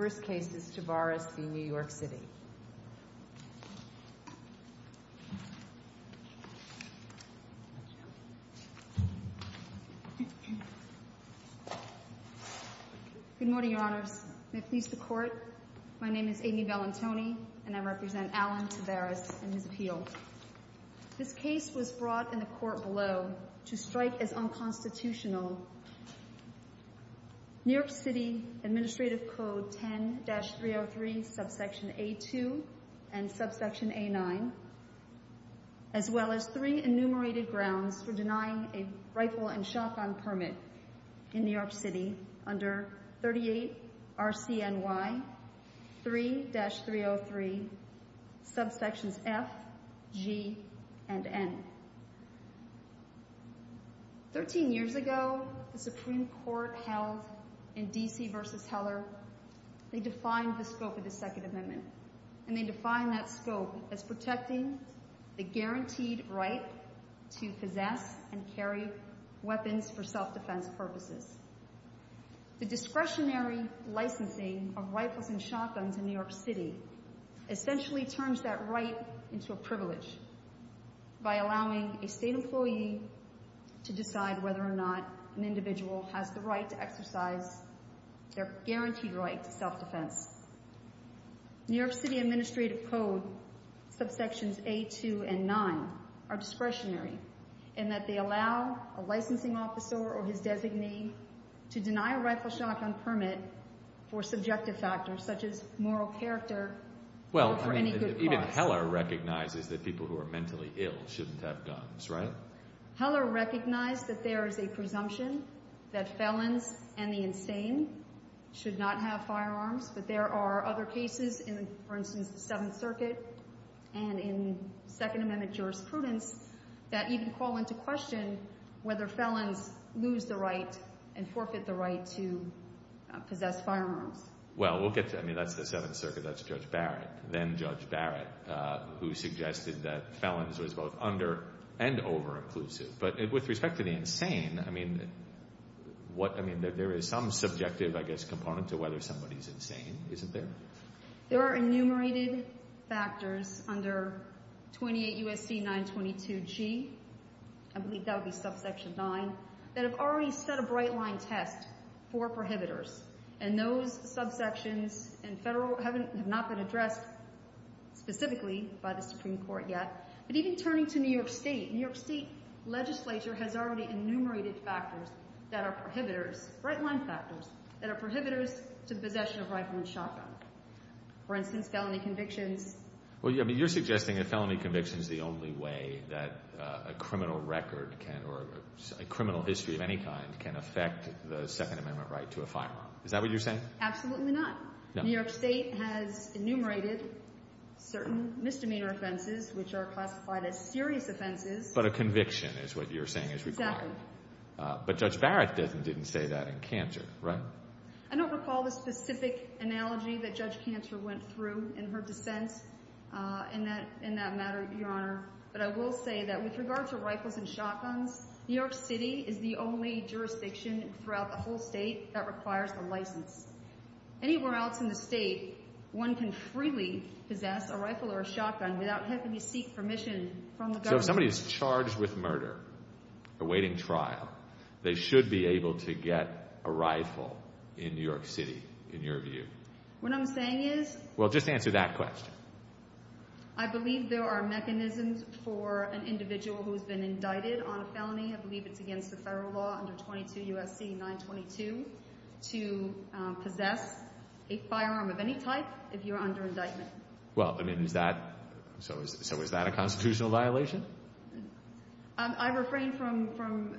Good morning, Your Honors, my name is Amy Bellantoni, and I represent Alan Taveras and his appeal. This case was brought in the court below to strike as unconstitutional. New York City Administrative Code 10-303, Subsection A2 and Subsection A9, as well as three enumerated grounds for denying a rifle and shotgun permit in New York City under 38 RCNY 3-303, Subsections F, G, and N. Thirteen years ago, the Supreme Court held in D.C. v. Heller, they defined the scope of the Second Amendment, and they defined that scope as protecting the guaranteed right to possess and carry weapons for self-defense purposes. The discretionary licensing of rifles and shotguns in New York City essentially turns that right into a privilege by allowing a state employee to decide whether or not an individual has the right to exercise their guaranteed right to self-defense. New York City Administrative Code Subsections A2 and 9 are discretionary in that they allow a licensing officer or his designee to deny a rifle and shotgun permit for subjective factors such as moral character or for any good cause. Well, even Heller recognizes that people who are mentally ill shouldn't have guns, right? Heller recognized that there is a presumption that felons and the insane should not have firearms, but there are other cases in, for instance, the Seventh Circuit and in Second Amendment jurisprudence that even call into question whether felons lose the right and forfeit the right to possess firearms. Well, we'll get to that. I mean, that's the Seventh Circuit. That's Judge Barrett, then-Judge Barrett, who suggested that felons was both under and over-inclusive. But with respect to the insane, I mean, there is some subjective, I guess, component to whether somebody's insane, isn't there? There are enumerated factors under 28 U.S.C. 922g, I believe that would be subsection 9, that have already set a bright-line test for prohibitors. And those subsections in federal haven't, have not been addressed specifically by the Supreme Court yet. But even turning to New York State, New York State legislature has already enumerated factors that are prohibitors, bright-line factors, that are prohibitors to possession of rifle and shotgun. For instance, felony convictions. Well, I mean, you're suggesting that felony conviction is the only way that a criminal record can, or a criminal history of any kind, can affect the Second Amendment right to a firearm. Is that what you're saying? Absolutely not. No. New York State has enumerated certain misdemeanor offenses, which are classified as serious offenses. But a conviction is what you're saying is required. Exactly. But Judge Barrett didn't say that in Canter, right? I don't recall the specific analogy that Judge Canter went through in her dissent in that matter, Your Honor. But I will say that with regard to rifles and shotguns, New York City is the only jurisdiction throughout the whole state that requires a license. Anywhere else in the state, one can freely possess a rifle or a shotgun without having to seek permission from the government. So if somebody is charged with murder, awaiting trial, they should be able to get a rifle in New York City, in your view. What I'm saying is... Well, just answer that question. I believe there are mechanisms for an individual who has been indicted on a felony, I believe it's against the federal law under 22 U.S.C. 922, to possess a firearm of any type if you're under indictment. Well, I mean, is that, so is that a constitutional violation? I refrain from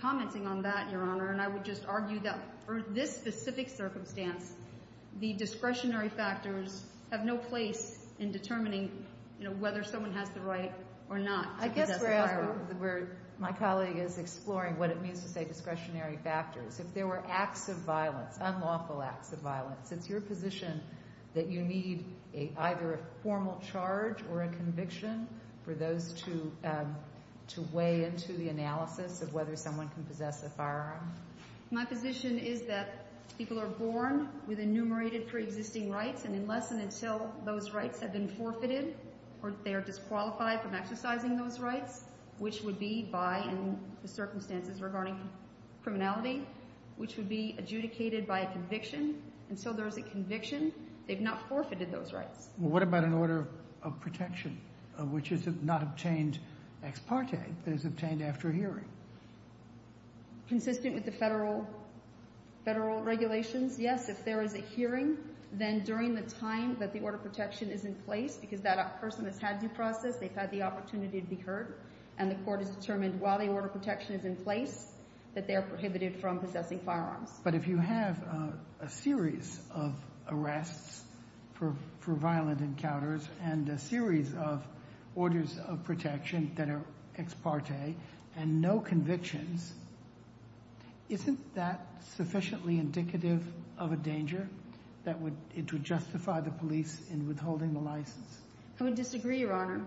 commenting on that, Your Honor, and I would just argue that for this specific circumstance, the discretionary factors have no place in determining, you know, whether someone has the right or not to possess a firearm. I guess we're at a point where my colleague is exploring what it means to say discretionary factors. If there were acts of violence, unlawful acts of violence, it's your position that you need either a formal charge or a conviction for those to weigh into the analysis of whether someone can possess a firearm? My position is that people are born with enumerated pre-existing rights, and unless and until those rights have been forfeited or they are disqualified from exercising those rights, which would be by, in the circumstances regarding criminality, which would be adjudicated by a conviction, until there is a conviction, they've not forfeited those rights. What about an order of protection, which is not obtained ex parte, but is obtained after hearing? Consistent with the Federal regulations, yes, if there is a hearing, then during the time that the order of protection is in place, because that person has had due process, they've had the opportunity to be heard, and the court has determined while the order of protection is in place that they are prohibited from possessing firearms. But if you have a series of arrests for violent encounters and a series of orders of protection that are ex parte and no convictions, isn't that sufficiently indicative of a danger that it would justify the police in withholding the license? I would disagree, Your Honor.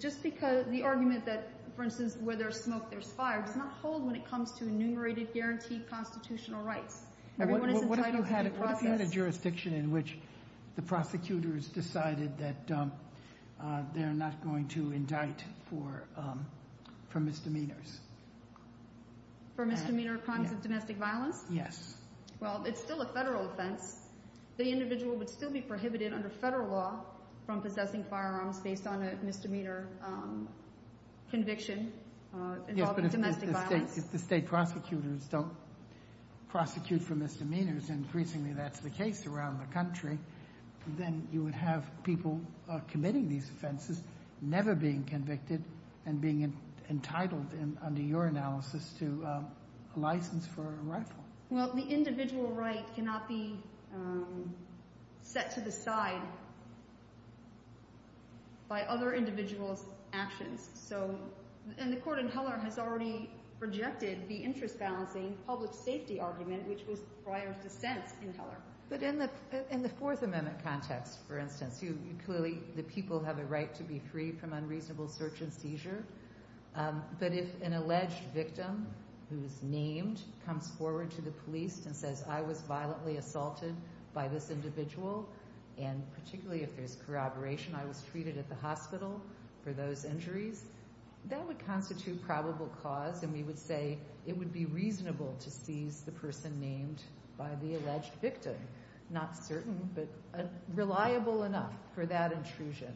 Just because the argument that, for instance, where there's smoke, there's fire, does not hold when it comes to enumerated guaranteed constitutional rights. Everyone is entitled to due process. What if you had a jurisdiction in which the prosecutors decided that they're not going to indict for misdemeanors? For misdemeanor crimes of domestic violence? Yes. Well, it's still a Federal offense. The individual would still be prohibited under Federal law from possessing firearms based on a misdemeanor conviction involving domestic violence. Yes, but if the state prosecutors don't prosecute for misdemeanors, and increasingly that's the case around the country, then you would have people committing these offenses never being convicted and being entitled, under your analysis, to a license for a rifle. Well, the individual right cannot be set to the side by other individuals' actions. So the court in Heller has already rejected the interest-balancing public safety argument, which was Breyer's dissent in Heller. But in the Fourth Amendment context, for instance, clearly the people have a right to be free from unreasonable search and seizure, but if an alleged victim who's named comes forward to the police and says, I was violently assaulted by this individual, and particularly if there's corroboration, I was treated at the hospital for those injuries, that would constitute probable cause, and we would say it would be reasonable to seize the person named by the alleged victim. Not certain, but reliable enough for that intrusion.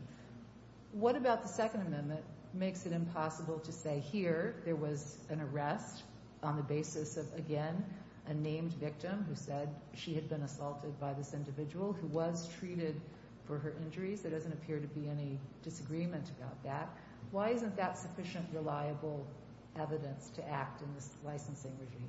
What about the Second Amendment makes it impossible to say, here, there was an arrest on the basis of, again, a named victim who said she had been assaulted by this individual who was treated for her injuries? There doesn't appear to be any disagreement about that. Why isn't that sufficient reliable evidence to act in this licensing regime?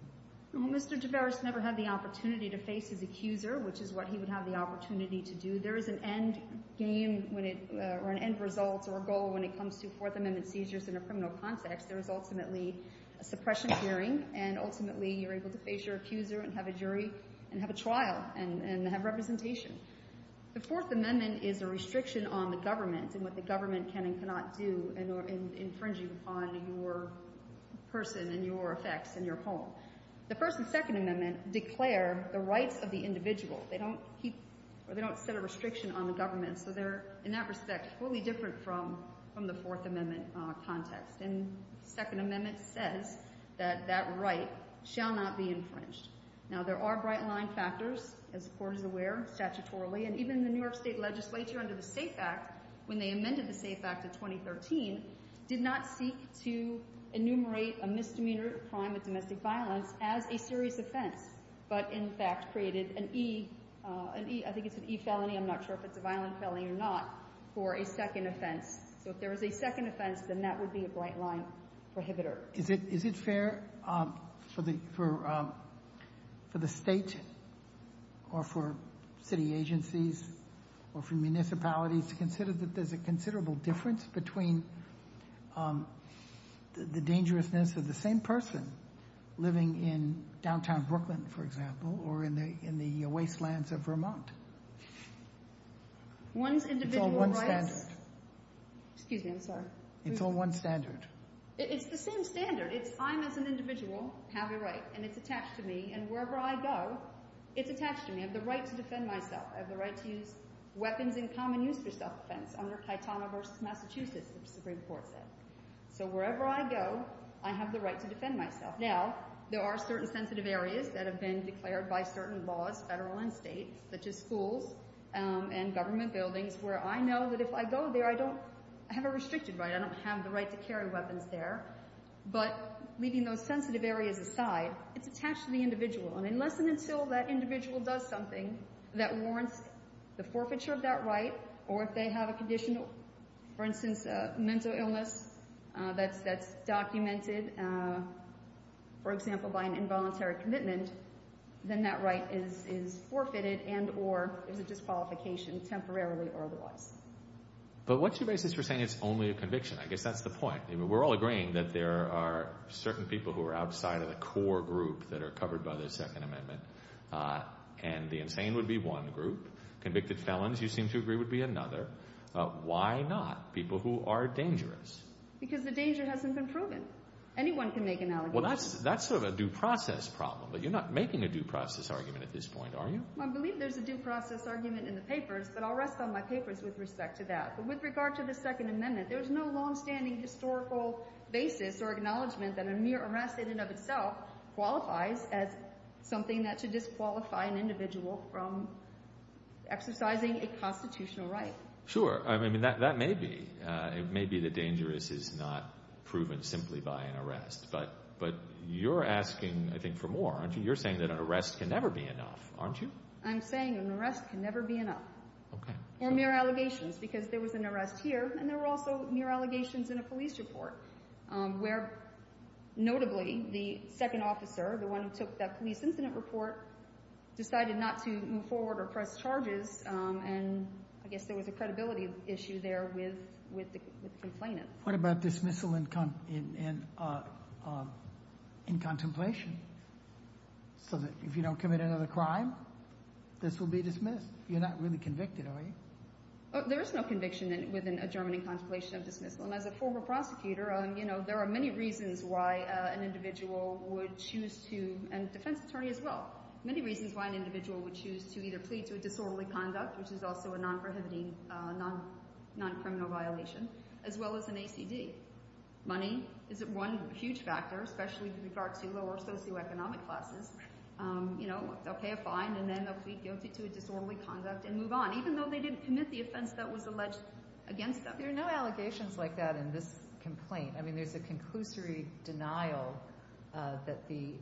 Well, Mr. Tavares never had the opportunity to face his accuser, which is what he would have the opportunity to do. There is an end game, or an end result, or a goal, when it comes to Fourth Amendment seizures in a criminal context. There is ultimately a suppression hearing, and ultimately you're able to face your accuser and have a jury, and have a trial, and have representation. The Fourth Amendment is a restriction on the government and what the government can and can't do in infringing upon your person and your effects and your home. The First and Second Amendment declare the rights of the individual. They don't set a restriction on the government, so they're, in that respect, totally different from the Fourth Amendment context, and the Second Amendment says that that right shall not be infringed. Now, there are bright-line factors, as the Court is aware, statutorily, and even the New York State Legislature, under the SAFE Act, when they amended the SAFE Act of 2013, did not seek to enumerate a misdemeanor crime of domestic violence as a serious offense, but in fact created an E, I think it's an E felony, I'm not sure if it's a violent felony or not, for a second offense. So if there was a second offense, then that would be a bright-line prohibitor. Is it fair for the state or for city agencies or for municipalities to consider that there's a considerable difference between the dangerousness of the same person living in downtown Brooklyn, for example, or in the wastelands of Vermont? One's individual rights. It's all one standard. Excuse me, I'm sorry. It's all one standard. It's the same standard. It's I, as an individual, have a right, and it's attached to me, and wherever I go, it's attached to me. I have the right to defend myself. I have the right to use weapons in common use for self-defense under Caetano v. Massachusetts, the Supreme Court said. So wherever I go, I have the right to defend myself. Now, there are certain sensitive areas that have been declared by certain laws, federal and state, such as schools and government buildings, where I know that if I go there, I don't have a restricted right. I don't have the right to carry weapons there. But leaving those sensitive areas aside, it's attached to the individual, and unless and until that individual does something that warrants the forfeiture of that right, or if they have a condition, for instance, a mental illness that's documented, for example, by an involuntary commitment, then that right is forfeited and or is a disqualification temporarily or otherwise. But what's your basis for saying it's only a conviction? I guess that's the point. I mean, we're all agreeing that there are certain people who are outside of the core group that are covered by the Second Amendment, and the insane would be one group. Convicted felons, you seem to agree, would be another. Why not people who are dangerous? Because the danger hasn't been proven. Anyone can make an allegation. Well, that's sort of a due process problem, but you're not making a due process argument at this point, are you? Well, I believe there's a due process argument in the papers, but I'll rest on my papers with respect to that. But with regard to the Second Amendment, there's no longstanding historical basis or acknowledgment that a mere arrest in and of itself qualifies as something that should disqualify an individual from exercising a constitutional right. Sure. I mean, that may be. It may be that dangerous is not proven simply by an arrest, but you're asking, I think, for more, aren't you? You're saying that an arrest can never be enough, aren't you? I'm saying an arrest can never be enough. Okay. Or mere allegations, because there was an arrest here, and there were also mere allegations in a police report where, notably, the second officer, the one who took that police incident report, decided not to move forward or press charges, and I guess there was a credibility issue there with the complainant. What about dismissal in contemplation, so that if you don't commit another crime, this will be dismissed? You're not really convicted, are you? There is no conviction within a German in contemplation of dismissal, and as a former prosecutor, there are many reasons why an individual would choose to, and a defense attorney as well, many reasons why an individual would choose to either plead to a disorderly conduct, which is also a non-prohibiting, non-criminal violation, as well as an ACD. Money is one huge factor, especially with regard to lower socioeconomic classes. They'll pay a fine, and then they'll plead guilty to a disorderly conduct and move on, even though they didn't commit the offense that was alleged against them. There are no allegations like that in this complaint. I mean, there's a conclusory denial that the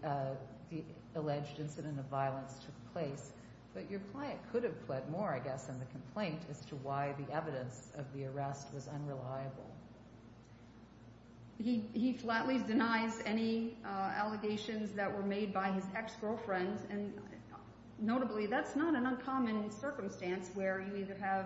alleged incident of violence took place, but your client could have pled more, I guess, in the complaint as to why the evidence of the arrest was unreliable. He flatly denies any allegations that were made by his ex-girlfriends, and notably, that's not an uncommon circumstance where you either have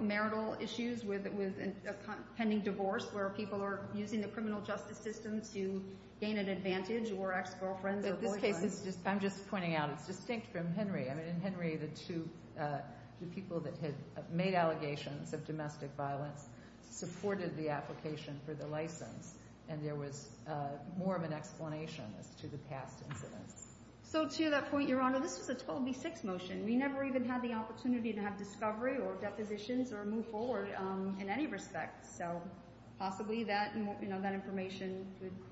marital issues with a pending divorce where people are using the criminal justice system to gain an advantage, or ex-girlfriends or boyfriends. I'm just pointing out, it's distinct from Henry. In Henry, the people that had made allegations of domestic violence supported the application for the license, and there was more of an explanation as to the past incidents. So to that point, Your Honor, this was a total B6 motion. We never even had the opportunity to have discovery or depositions or move forward in any respect, so possibly that information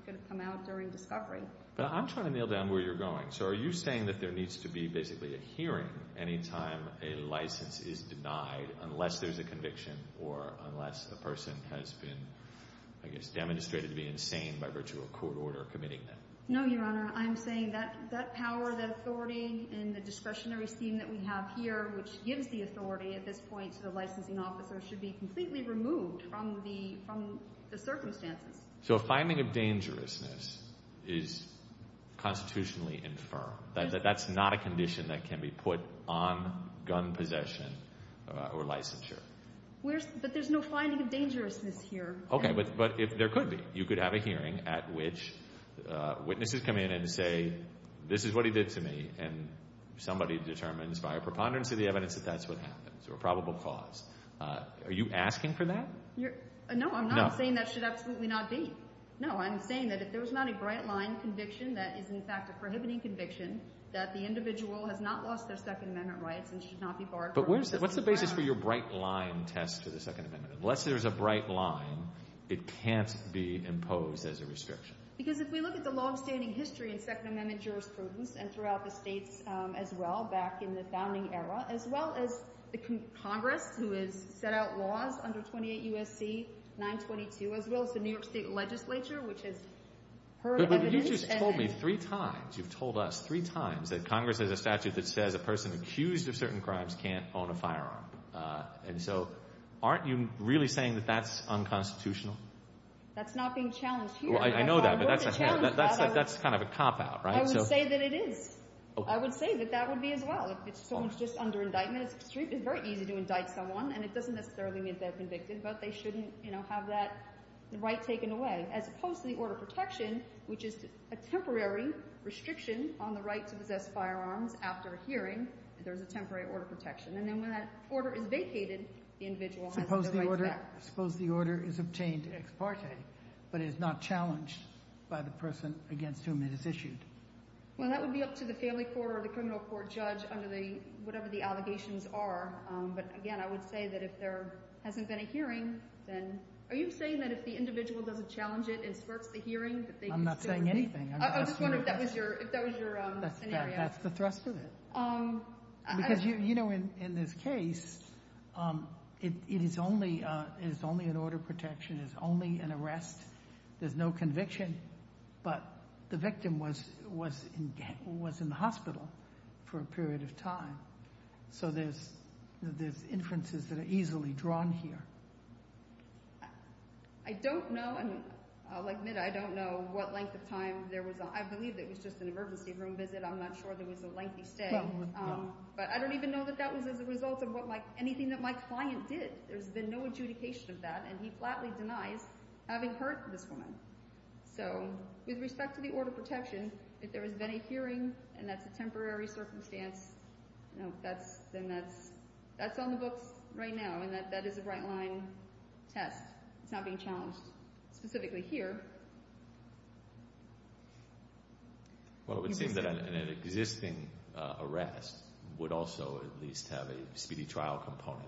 could have come out during discovery. But I'm trying to nail down where you're going. So are you saying that there needs to be basically a hearing any time a license is denied unless there's a conviction or unless a person has been, I guess, demonstrated to be insane by virtue of court order committing them? No, Your Honor. I'm saying that power, that authority, and the discretionary scheme that we have here, which gives the authority at this point to the licensing officer, should be completely removed from the circumstances. So a finding of dangerousness is constitutionally infirm. That's not a condition that can be put on gun possession or licensure. But there's no finding of dangerousness here. Okay, but there could be. You could have a hearing at which witnesses come in and say, this is what he did to me, and somebody determines by a preponderance of the evidence that that's what happened, so a probable cause. Are you asking for that? No, I'm not saying that should absolutely not be. No, I'm saying that if there's not a bright line conviction that is, in fact, a prohibiting conviction, that the individual has not lost their Second Amendment rights and should not be barred from... But what's the basis for your bright line test to the Second Amendment? Unless there's a bright line, it can't be imposed as a restriction. Because if we look at the longstanding history in Second Amendment jurisprudence and throughout the states as well, back in the founding era, as well as the Congress, who has set out laws under 28 U.S.C. 922, as well as the New York State legislature, which has heard evidence... But you just told me three times, you've told us three times that Congress has a statute that says a person accused of certain crimes can't own a firearm. And so aren't you really saying that that's unconstitutional? That's not being challenged here. I know that, but that's kind of a cop-out, right? I would say that it is. I would say that that would be as well. If someone's just under indictment, it's very easy to indict someone, and it doesn't necessarily mean they're convicted. But they shouldn't, you know, have that right taken away. As opposed to the order of protection, which is a temporary restriction on the right to possess firearms after a hearing, there's a temporary order of protection. And then when that order is vacated, the individual has the right to back up. Suppose the order is obtained ex parte, but it is not challenged by the person against whom it is issued. Well, that would be up to the family court or the criminal court judge under the whatever the allegations are. But again, I would say that if there hasn't been a hearing, then... Are you saying that if the individual doesn't challenge it and spurts the hearing, that they can still... I'm not saying anything. I'm just wondering if that was your scenario. That's the thrust of it. Because, you know, in this case, it is only an order of protection. It's only an arrest. There's no conviction. But the victim was in the hospital for a period of time. So there's inferences that are easily drawn here. I don't know. And I'll admit, I don't know what length of time there was. I believe it was just an emergency room visit. I'm not sure there was a lengthy stay. But I don't even know that that was as a result of anything that my client did. There's been no adjudication of that. And he flatly denies having hurt this woman. So with respect to the order of protection, if there has been a hearing, and that's a then that's on the books right now. And that is a bright line test. It's not being challenged specifically here. Well, it would seem that an existing arrest would also at least have a speedy trial component.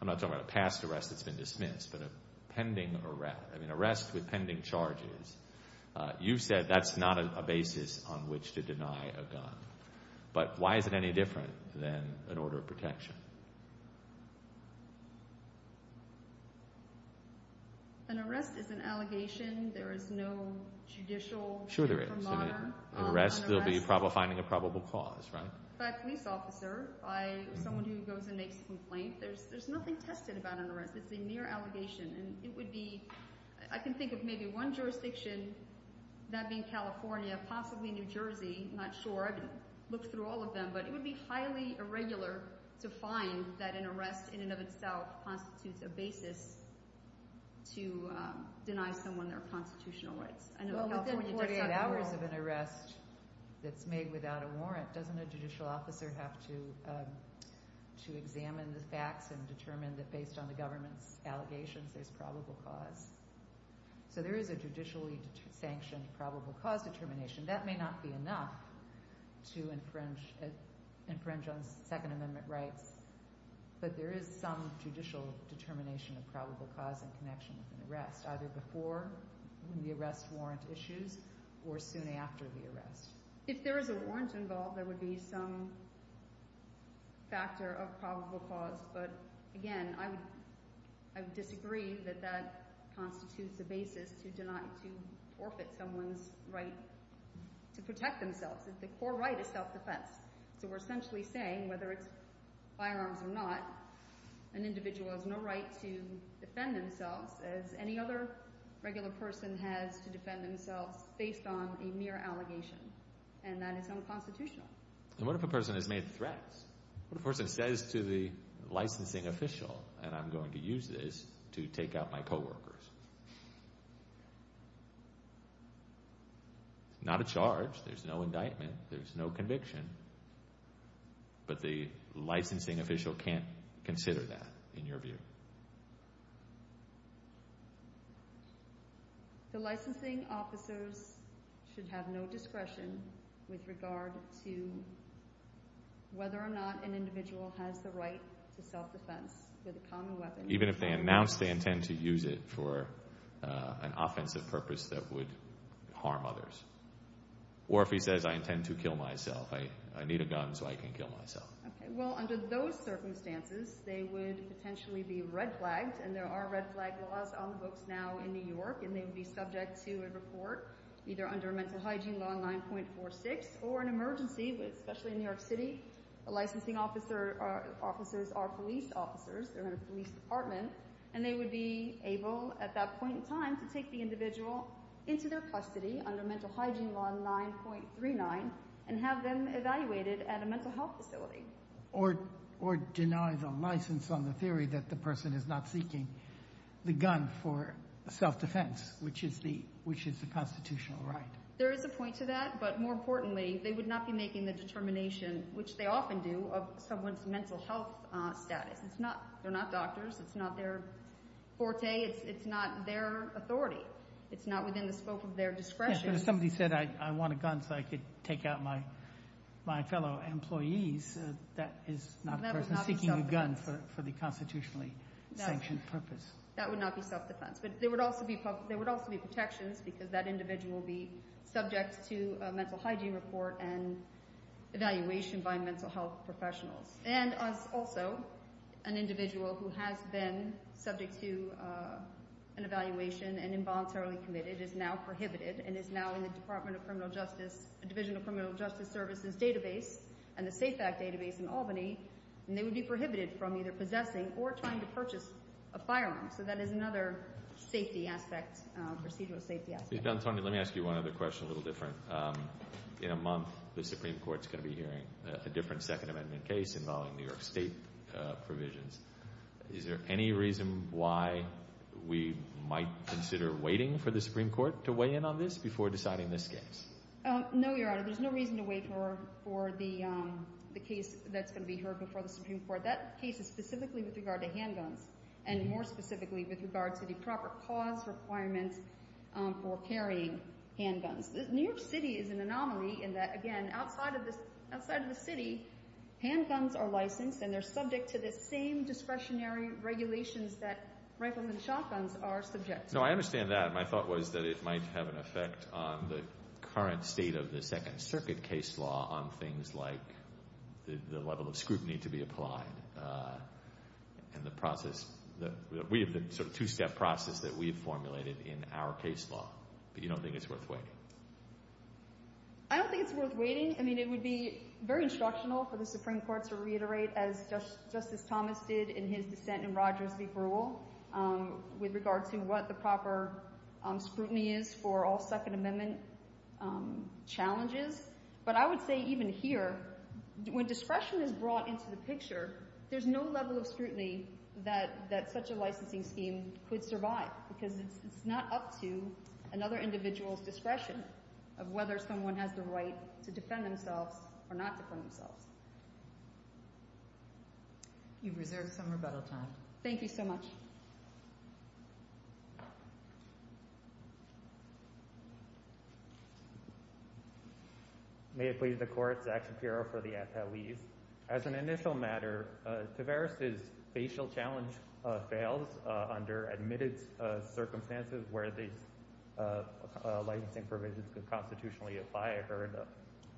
I'm not talking about a past arrest that's been dismissed, but a pending arrest. I mean, arrests with pending charges. You've said that's not a basis on which to deny a gun. But why is it any different than an order of protection? An arrest is an allegation. There is no judicial... Sure there is. An arrest will be finding a probable cause, right? By a police officer, by someone who goes and makes a complaint. There's nothing tested about an arrest. It's a mere allegation. And it would be, I can think of maybe one jurisdiction, that being California, possibly New Jersey, not sure. I didn't look through all of them, but it would be highly irregular to find that an arrest in and of itself constitutes a basis to deny someone their constitutional rights. I know California does not rule... Well, within 48 hours of an arrest that's made without a warrant, doesn't a judicial officer have to examine the facts and determine that based on the government's allegations there's probable cause? So there is a judicially sanctioned probable cause determination. That may not be enough to infringe on Second Amendment rights, but there is some judicial determination of probable cause in connection with an arrest, either before the arrest warrant issues or soon after the arrest. If there is a warrant involved, there would be some factor of probable cause. But again, I would disagree that that constitutes a basis to deny, to forfeit someone's right to protect themselves, that the core right is self-defense. So we're essentially saying, whether it's firearms or not, an individual has no right to defend themselves as any other regular person has to defend themselves based on a mere allegation, and that is unconstitutional. And what if a person has made threats? What if a person says to the licensing official, and I'm going to use this to take out my charge, there's no indictment, there's no conviction, but the licensing official can't consider that, in your view? The licensing officers should have no discretion with regard to whether or not an individual has the right to self-defense with a common weapon. Even if they announce they intend to use it for an offensive purpose that would harm others. Or if he says, I intend to kill myself, I need a gun so I can kill myself. Okay, well, under those circumstances, they would potentially be red-flagged, and there are red-flagged laws on the books now in New York, and they would be subject to a report, either under Mental Hygiene Law 9.46, or an emergency, especially in New York City. The licensing officers are police officers, they're in a police department, and they would be able, at that point in time, to take the individual into their custody under Mental Hygiene Law 9.39, and have them evaluated at a mental health facility. Or deny the license on the theory that the person is not seeking the gun for self-defense, which is the constitutional right. There is a point to that, but more importantly, they would not be making the determination which they often do, of someone's mental health status. It's not, they're not doctors, it's not their forte, it's not their authority. It's not within the scope of their discretion. Yes, but if somebody said, I want a gun so I can take out my fellow employees, that is not a person seeking a gun for the constitutionally sanctioned purpose. That would not be self-defense. But there would also be protections, because that individual would be subject to a mental hygiene report and evaluation by mental health professionals. And also, an individual who has been subject to an evaluation and involuntarily committed is now prohibited, and is now in the Department of Criminal Justice, Division of Criminal Justice Services database, and the Safe Act database in Albany, and they would be prohibited from either possessing or trying to purchase a firearm. So that is another safety aspect, procedural safety aspect. Ms. D'Antonio, let me ask you one other question, a little different. In a month, the Supreme Court's going to be hearing a different Second Amendment case involving New York State provisions. Is there any reason why we might consider waiting for the Supreme Court to weigh in on this before deciding this case? No, Your Honor. There's no reason to wait for the case that's going to be heard before the Supreme Court. That case is specifically with regard to handguns, and more specifically with regard to the proper pause requirements for carrying handguns. New York City is an anomaly in that, again, outside of the city, handguns are licensed, and they're subject to the same discretionary regulations that rifleman shotguns are subject to. No, I understand that. My thought was that it might have an effect on the current state of the Second Circuit case law on things like the level of scrutiny to be applied, and the process. We have the sort of two-step process that we've formulated in our case law, but you don't think it's worth waiting? I don't think it's worth waiting. I mean, it would be very instructional for the Supreme Court to reiterate, as Justice Thomas did in his dissent in Rogers v. Brewell, with regard to what the proper scrutiny is for all Second Amendment challenges. But I would say even here, when discretion is brought into the picture, there's no level of scrutiny that such a licensing scheme could survive, because it's not up to another individual's discretion of whether someone has the right to defend themselves or not defend themselves. You've reserved some rebuttal time. Thank you so much. May it please the Court. Zach Shapiro for the Attlees. As an initial matter, Tavares' facial challenge fails under admitted circumstances where these licensing provisions could constitutionally apply. I heard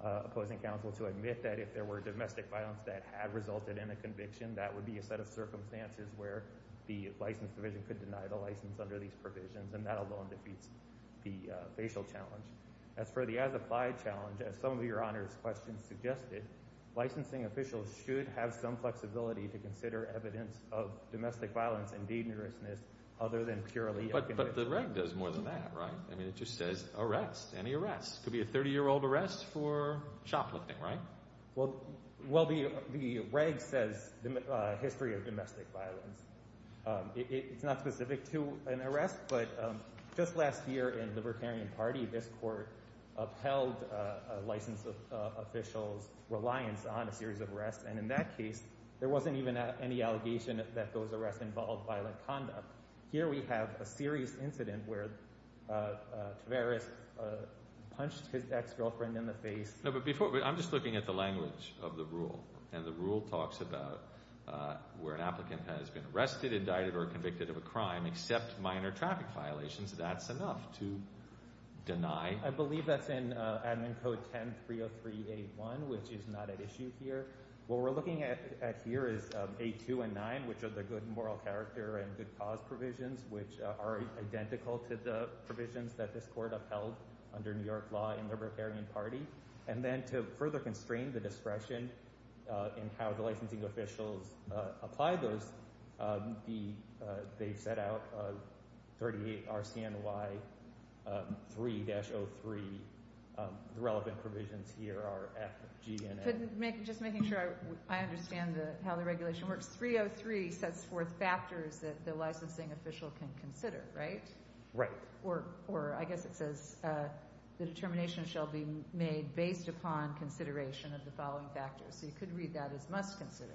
opposing counsel to admit that if there were domestic violence that had resulted in a conviction, that would be a set of circumstances where the license division could deny the license under these provisions, and that alone defeats the facial challenge. As for the as-applied challenge, as some of Your Honor's questions suggested, licensing officials should have some flexibility to consider evidence of domestic violence and dangerousness other than purely a conviction. But the reg does more than that, right? I mean, it just says arrest, any arrest. It could be a 30-year-old arrest for shoplifting, right? Well, the reg says history of domestic violence. It's not specific to an arrest, but just last year in the Libertarian Party, this Court upheld a license official's reliance on a series of arrests. And in that case, there wasn't even any allegation that those arrests involved violent conduct. Here we have a serious incident where Tavares punched his ex-girlfriend in the face. No, but before, I'm just looking at the language of the rule. And the rule talks about where an applicant has been arrested, indicted, or convicted of a crime except minor traffic violations. That's enough to deny— I believe that's in Admin Code 10-303-A1, which is not at issue here. What we're looking at here is A2 and 9, which are the good moral character and good cause provisions, which are identical to the provisions that this Court upheld under New York law in the Libertarian Party. And then to further constrain the discretion in how the licensing officials apply those, the—they've set out 38 RCNY 3-03, the relevant provisions here are F, G, and A. Just making sure I understand how the regulation works, 303 sets forth factors that the licensing official can consider, right? Right. Or I guess it says, the determination shall be made based upon consideration of the following factors. So you could read that as must consider.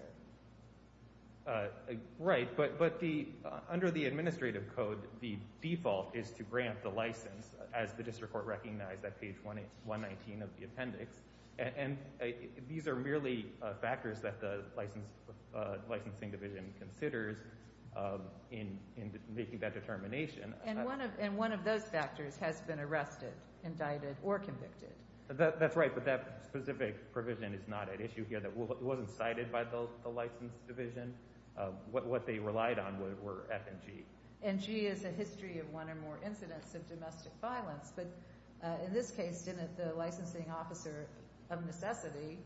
Right, but the—under the Administrative Code, the default is to grant the license as the District Court recognized at page 119 of the appendix. And these are merely factors that the licensing division considers in making that determination. And one of those factors has been arrested, indicted, or convicted. That's right, but that specific provision is not at issue here. It wasn't cited by the license division. What they relied on were F and G. And G is a history of one or more incidents of domestic violence. But in this case, didn't the licensing officer of necessity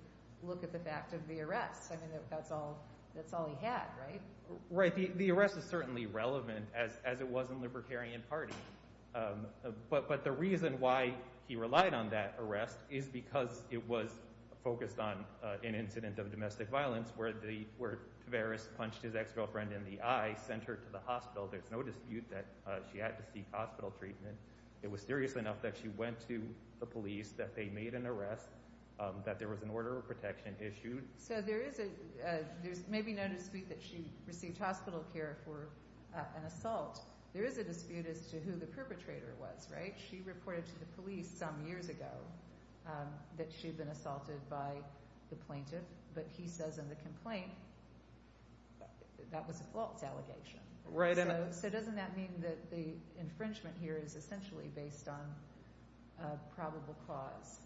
look at the fact of the arrest? I mean, that's all he had, right? Right. The arrest is certainly relevant, as it was in the Libertarian Party. But the reason why he relied on that arrest is because it was focused on an incident of domestic violence where Tavares punched his ex-girlfriend in the eye, sent her to the hospital. There's no dispute that she had to seek hospital treatment. It was serious enough that she went to the police, that they made an arrest, that there was an order of protection issued. So there is a—there's maybe no dispute that she received hospital care for an assault. There is a dispute as to who the perpetrator was, right? She reported to the police some years ago that she'd been assaulted by the plaintiff. But he says in the complaint that was a false allegation. Right. So doesn't that mean that the infringement here is essentially based on a probable cause?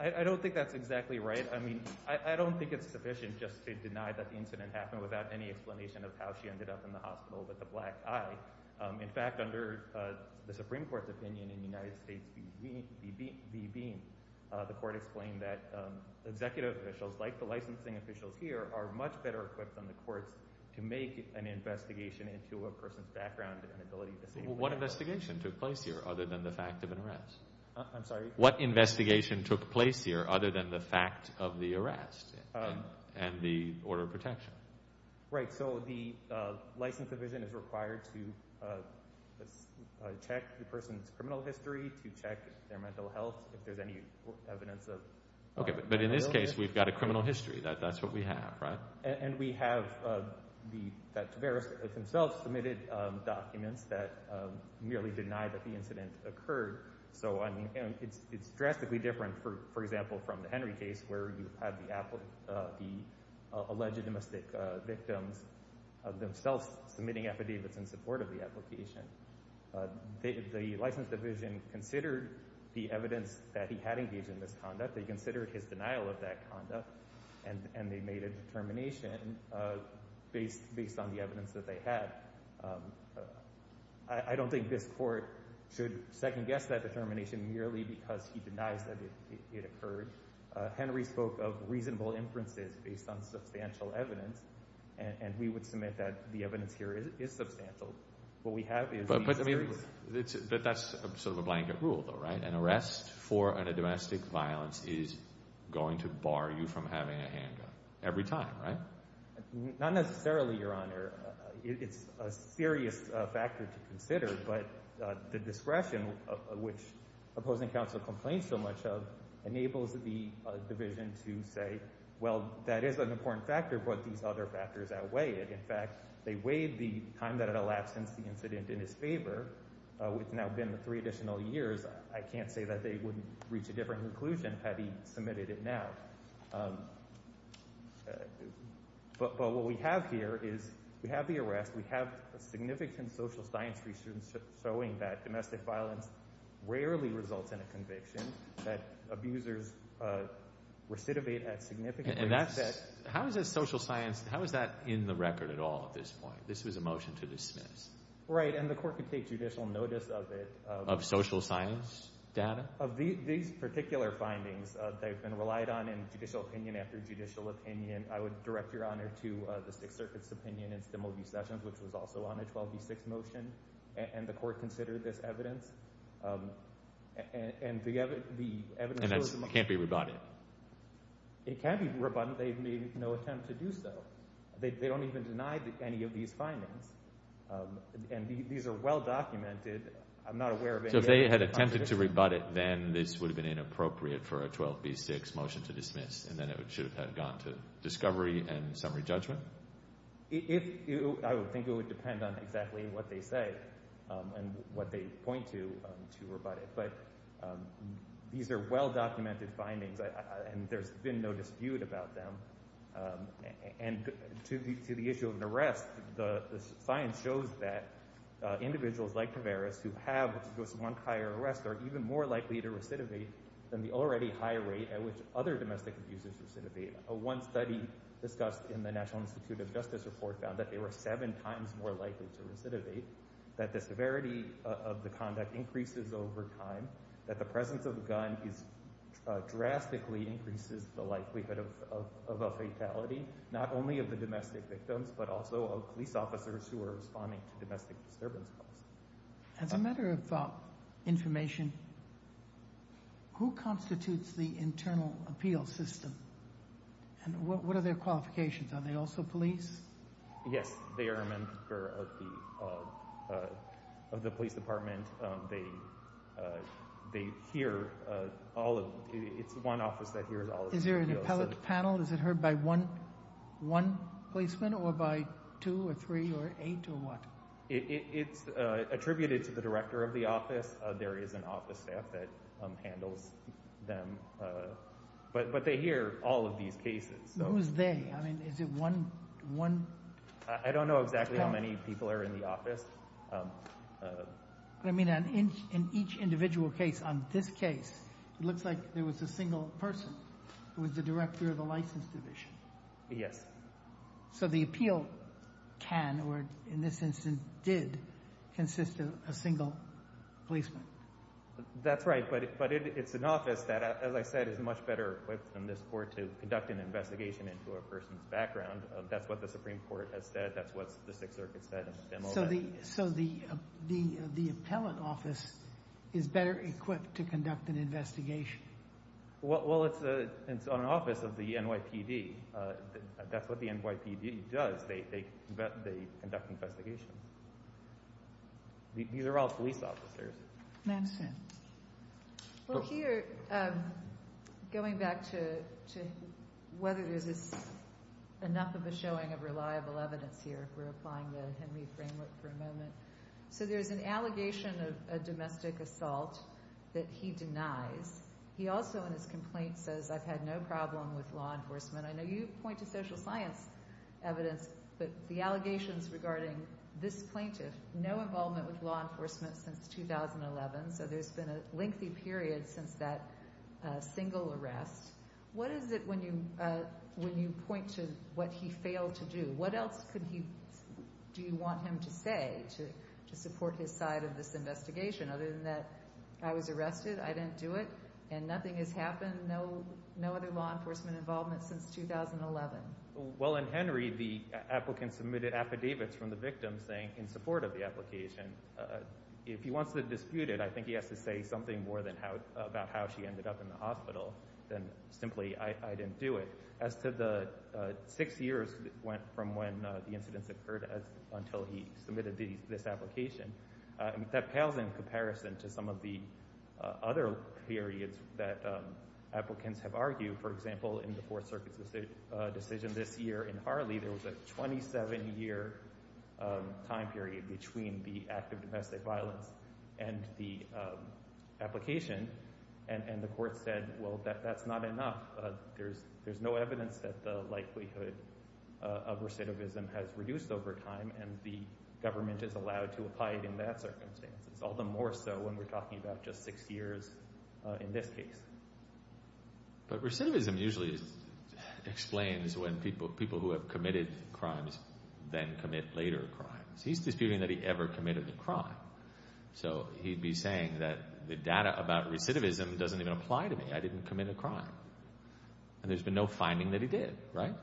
I don't think that's exactly right. I mean, I don't think it's sufficient just to deny that the incident happened without any explanation of how she ended up in the hospital with the black eye. In fact, under the Supreme Court's opinion in the United States v. Beam, the court explained that executive officials, like the licensing officials here, are much better equipped than the courts to make an investigation into a person's background and ability to— Well, what investigation took place here other than the fact of an arrest? I'm sorry? What investigation took place here other than the fact of the arrest and the order of protection? Right. So the license division is required to check the person's criminal history, to check their mental health, if there's any evidence of— Okay. But in this case, we've got a criminal history. That's what we have, right? And we have the—that Tavares himself submitted documents that merely deny that the incident occurred. So, I mean, it's drastically different, for example, from the Henry case, where you have the alleged domestic victims themselves submitting affidavits in support of the application. The license division considered the evidence that he had engaged in this conduct. They considered his denial of that conduct, and they made a determination based on the evidence that they had. I don't think this court should second-guess that determination merely because he denies that it occurred. Henry spoke of reasonable inferences based on substantial evidence, and we would submit that the evidence here is substantial. What we have is— But that's sort of a blanket rule, though, right? An arrest for a domestic violence is going to bar you from having a handgun. Every time, right? Not necessarily, Your Honor. It's a serious factor to consider, but the discretion, which opposing counsel complains so much of, enables the division to say, well, that is an important factor, but these other factors outweigh it. In fact, they weighed the time that had elapsed since the incident in his favor. It's now been three additional years. I can't say that they wouldn't reach a different conclusion had he submitted it now. But what we have here is we have the arrest. We have significant social science research showing that domestic violence rarely results in a conviction, that abusers recidivate at significant rates. And that's— How is that social science—how is that in the record at all at this point? This was a motion to dismiss. Right, and the Court could take judicial notice of it. Of social science data? Of these particular findings that have been relied on in judicial opinion after judicial opinion. I would direct Your Honor to the Sixth Circuit's opinion in Stimel v. Sessions, which was also on a 12b6 motion, and the Court considered this evidence. And the evidence was— And it can't be rebutted? It can be rebutted. They've made no attempt to do so. They don't even deny any of these findings. And these are well documented. I'm not aware of any— So if they had attempted to rebut it, then this would have been inappropriate for a 12b6 motion to dismiss, and then it should have gone to discovery and summary judgment? If—I would think it would depend on exactly what they say and what they point to to rebut it. But these are well documented findings, and there's been no dispute about them. And to the issue of an arrest, the science shows that individuals like Tavares who have what's supposed to be one prior arrest are even more likely to recidivate than the already high rate at which other domestic abusers recidivate. One study discussed in the National Institute of Justice report found that they were seven times more likely to recidivate, that the severity of the conduct increases over time, that the presence of a gun is—drastically increases the likelihood of a fatality, not only of the domestic victims, but also of police officers who are responding to domestic disturbance calls. As a matter of information, who constitutes the internal appeal system? And what are their qualifications? Are they also police? Yes, they are a member of the police department. They hear all of—it's one office that hears all of the appeals. Is there an appellate panel? Is it heard by one policeman or by two or three or eight or what? It's attributed to the director of the office. There is an office staff that handles them. But they hear all of these cases. Who's they? I mean, is it one— I don't know exactly how many people are in the office. I mean, in each individual case, on this case, it looks like there was a single person who was the director of the license division. Yes. So the appeal can, or in this instance did, consist of a single policeman. That's right. But it's an office that, as I said, is much better equipped than this court to conduct an investigation into a person's background. That's what the Supreme Court has said. That's what the Sixth Circuit said in the demo. So the appellate office is better equipped to conduct an investigation? Well, it's an office of the NYPD. That's what the NYPD does. They conduct investigations. These are all police officers. Nancy? Well, here, going back to whether there's enough of a showing of reliable evidence here, if we're applying the Henry framework for a moment. So there's an allegation of a domestic assault that he denies. He also, in his complaint, says, I've had no problem with law enforcement. I know you point to social science evidence, but the allegations regarding this plaintiff, no involvement with law enforcement since 2011. So there's been a lengthy period since that single arrest. What is it when you point to what he failed to do? What else could he, do you want him to say to support his side of this investigation? Other than that, I was arrested, I didn't do it, and nothing has happened, no other law enforcement involvement since 2011. Well, in Henry, the applicant submitted affidavits from the victim saying, in support of the application, if he wants to dispute it, I think he has to say something more about how she ended up in the hospital than simply, I didn't do it. As to the six years from when the incidents occurred until he submitted this application, that pales in comparison to some of the other periods that applicants have argued. For example, in the Fourth Circuit's decision this year in Harley, there was a 27-year time period between the act of domestic violence and the application, and the court said, well, that's not enough. There's no evidence that the likelihood of recidivism has reduced over time, and the government is allowed to apply it in that circumstance, all the more so when we're talking about just six years in this case. But recidivism usually explains when people who have committed crimes then commit later crimes. He's disputing that he ever committed a crime, so he'd be saying that the data about recidivism doesn't even apply to me, I didn't commit a crime, and there's been no finding that he did, right?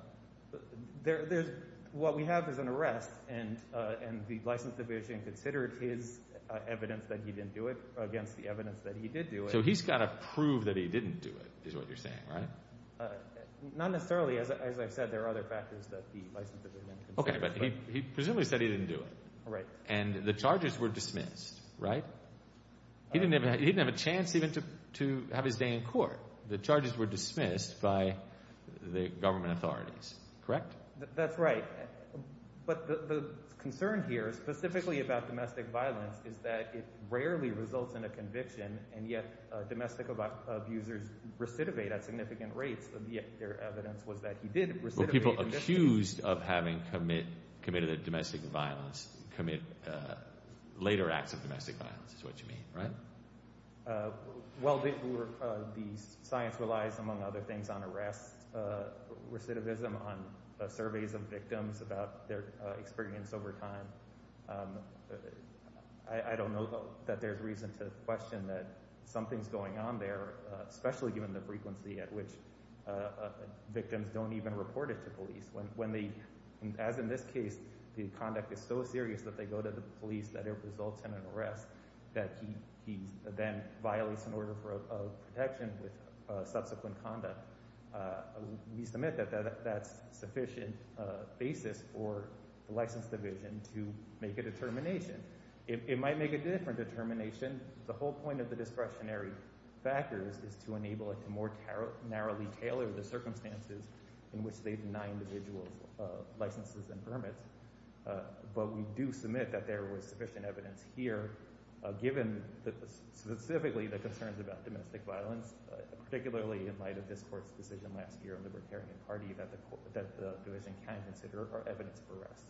What we have is an arrest, and the license division considered his evidence that he didn't do it against the evidence that he did do it. So he's got to prove that he didn't do it, is what you're saying, right? Not necessarily. As I've said, there are other factors that the license division considers. Okay, but he presumably said he didn't do it. Right. And the charges were dismissed, right? He didn't have a chance even to have his day in court. The charges were dismissed by the government authorities, correct? That's right. But the concern here, specifically about domestic violence, is that it rarely results in a conviction, and yet domestic abusers recidivate at significant rates, and yet their evidence was that he did recidivate. People accused of having committed domestic violence commit later acts of domestic violence, is what you mean, right? Well, the science relies, among other things, on arrest recidivism, on surveys of victims about their experience over time. I don't know that there's reason to question that something's going on there, especially given the frequency at which victims don't even report it to police. As in this case, the conduct is so serious that they go to the police, that it results in an arrest, that he then violates an order of protection with subsequent conduct. We submit that that's sufficient basis for the license division to make a determination. It might make a different determination. The whole point of the discretionary factors is to enable it to more narrowly tailor the circumstances in which they deny individuals licenses and permits. But we do submit that there was sufficient evidence here, given specifically the concerns about domestic violence, particularly in light of this court's decision last year, a libertarian party, that the division can consider are evidence for arrests.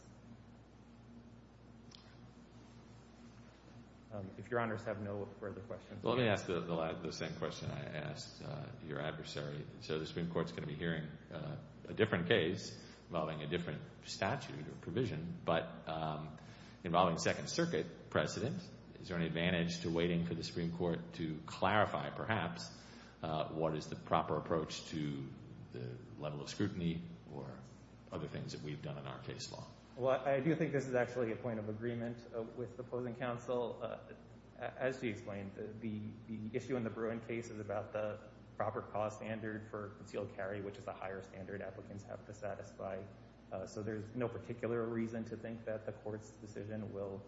If your honors have no further questions. Well, let me ask the same question I asked your adversary. So the Supreme Court's going to be hearing a different case involving a different statute or provision, but involving Second Circuit precedent. Is there any advantage to waiting for the Supreme Court to clarify, perhaps, what is the proper approach to the level of scrutiny or other things that we've done in our case law? Well, I do think this is actually a point of agreement. With opposing counsel, as she explained, the issue in the Bruin case is about the proper cause standard for concealed carry, which is a higher standard applicants have to satisfy. So there's no particular reason to think that the court's decision will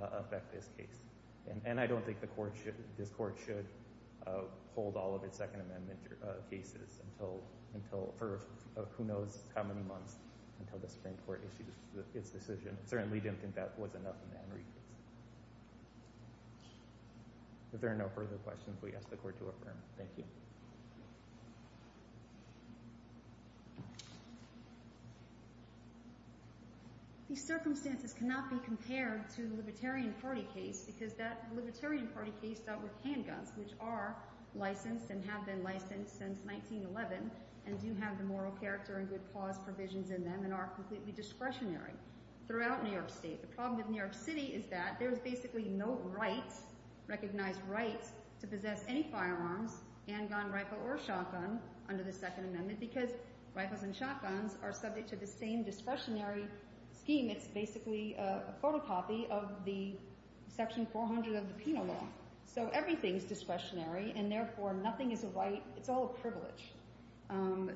affect this case. And I don't think this court should hold all of its Second Amendment cases for who knows how many months until the Supreme Court issues its decision. Certainly didn't think that was enough. If there are no further questions, we ask the court to affirm. Thank you. These circumstances cannot be compared to the Libertarian Party case, because that Libertarian Party case dealt with handguns, which are licensed and have been licensed since 1911, and do have the moral character and good cause provisions in them and are completely discretionary. Throughout New York State, the problem with New York City is that there's basically no rights, recognized rights, to possess any firearms, handgun, rifle, or shotgun under the Second Amendment, because rifles and shotguns are subject to the same discretionary scheme. It's basically a photocopy of the section 400 of the penal law. So everything is discretionary, and therefore nothing is a right. It's all a privilege.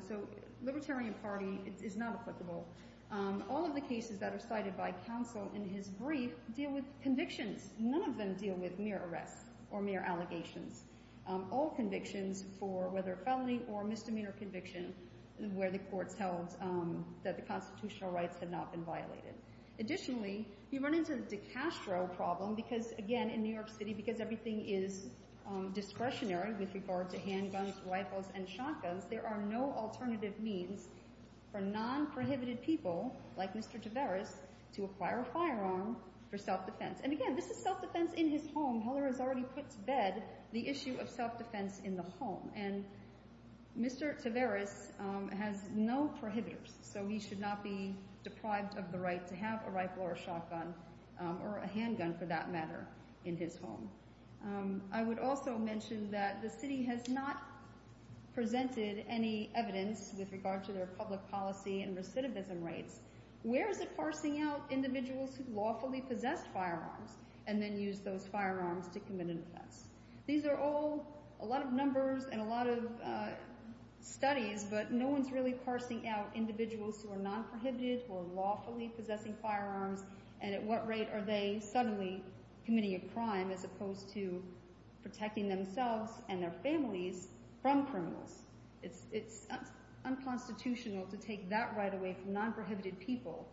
So Libertarian Party is not applicable. All of the cases that are cited by counsel in his brief deal with convictions. None of them deal with mere arrests or mere allegations. All convictions for whether felony or misdemeanor conviction, where the courts held that the constitutional rights have not been violated. Additionally, you run into the de Castro problem, because again, in New York City, because everything is discretionary with regard to handguns, rifles, and shotguns, there are no alternative means for non-prohibited people, like Mr. Tavares, to acquire a firearm for self-defense. And again, this is self-defense in his home. Heller has already put to bed the issue of self-defense in the home. And Mr. Tavares has no prohibitors. So he should not be deprived of the right to have a rifle or a shotgun, or a handgun for that matter, in his home. I would also mention that the city has not presented any evidence with regard to their public policy and recidivism rates. Where is it parsing out individuals who lawfully possess firearms, and then use those firearms to commit an offense? These are all a lot of numbers and a lot of studies, but no one's really parsing out individuals who are non-prohibited, who are lawfully possessing firearms, and at what rate are they suddenly committing a crime, as opposed to protecting themselves and their families from criminals? It's unconstitutional to take that right away from non-prohibited people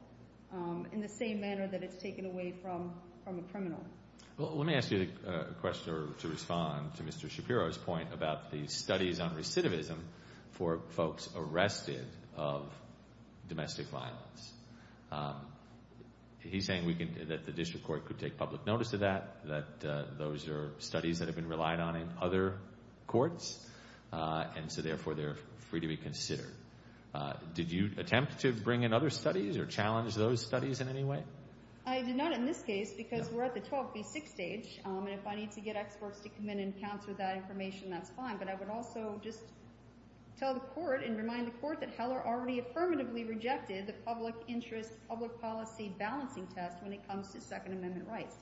in the same manner that it's taken away from a criminal. Well, let me ask you a question to respond to Mr. Shapiro's point about the studies on recidivism for folks arrested of domestic violence. He's saying that the district court could take public notice of that, that those are studies that have been relied on in other courts, and so therefore they're free to be considered. Did you attempt to bring in other studies or challenge those studies in any way? I did not in this case, because we're at the 12B6 stage, and if I need to get experts to come in and counter that information, that's fine. But I would also just tell the court and remind the court that Heller already affirmatively rejected the public interest, balancing test when it comes to Second Amendment rights.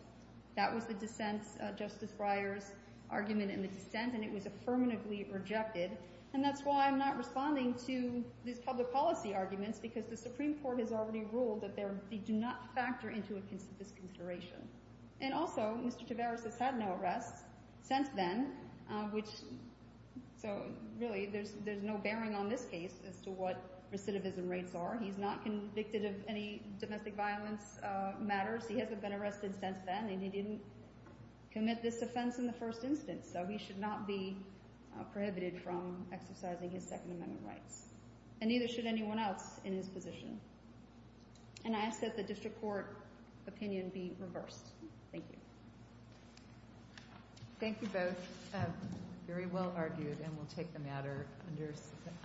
That was the dissent, Justice Breyer's argument in the dissent, and it was affirmatively rejected, and that's why I'm not responding to these public policy arguments, because the Supreme Court has already ruled that they do not factor into this consideration. And also, Mr. Tavares has had no arrests since then, which, so really, there's no bearing on this case as to what recidivism rates are. He's not convicted of any domestic violence matters. He hasn't been arrested since then, and he didn't commit this offense in the first instance, so he should not be prohibited from exercising his Second Amendment rights, and neither should anyone else in his position. And I ask that the district court opinion be reversed. Thank you. Thank you both. Very well argued, and we'll take the matter under advisement.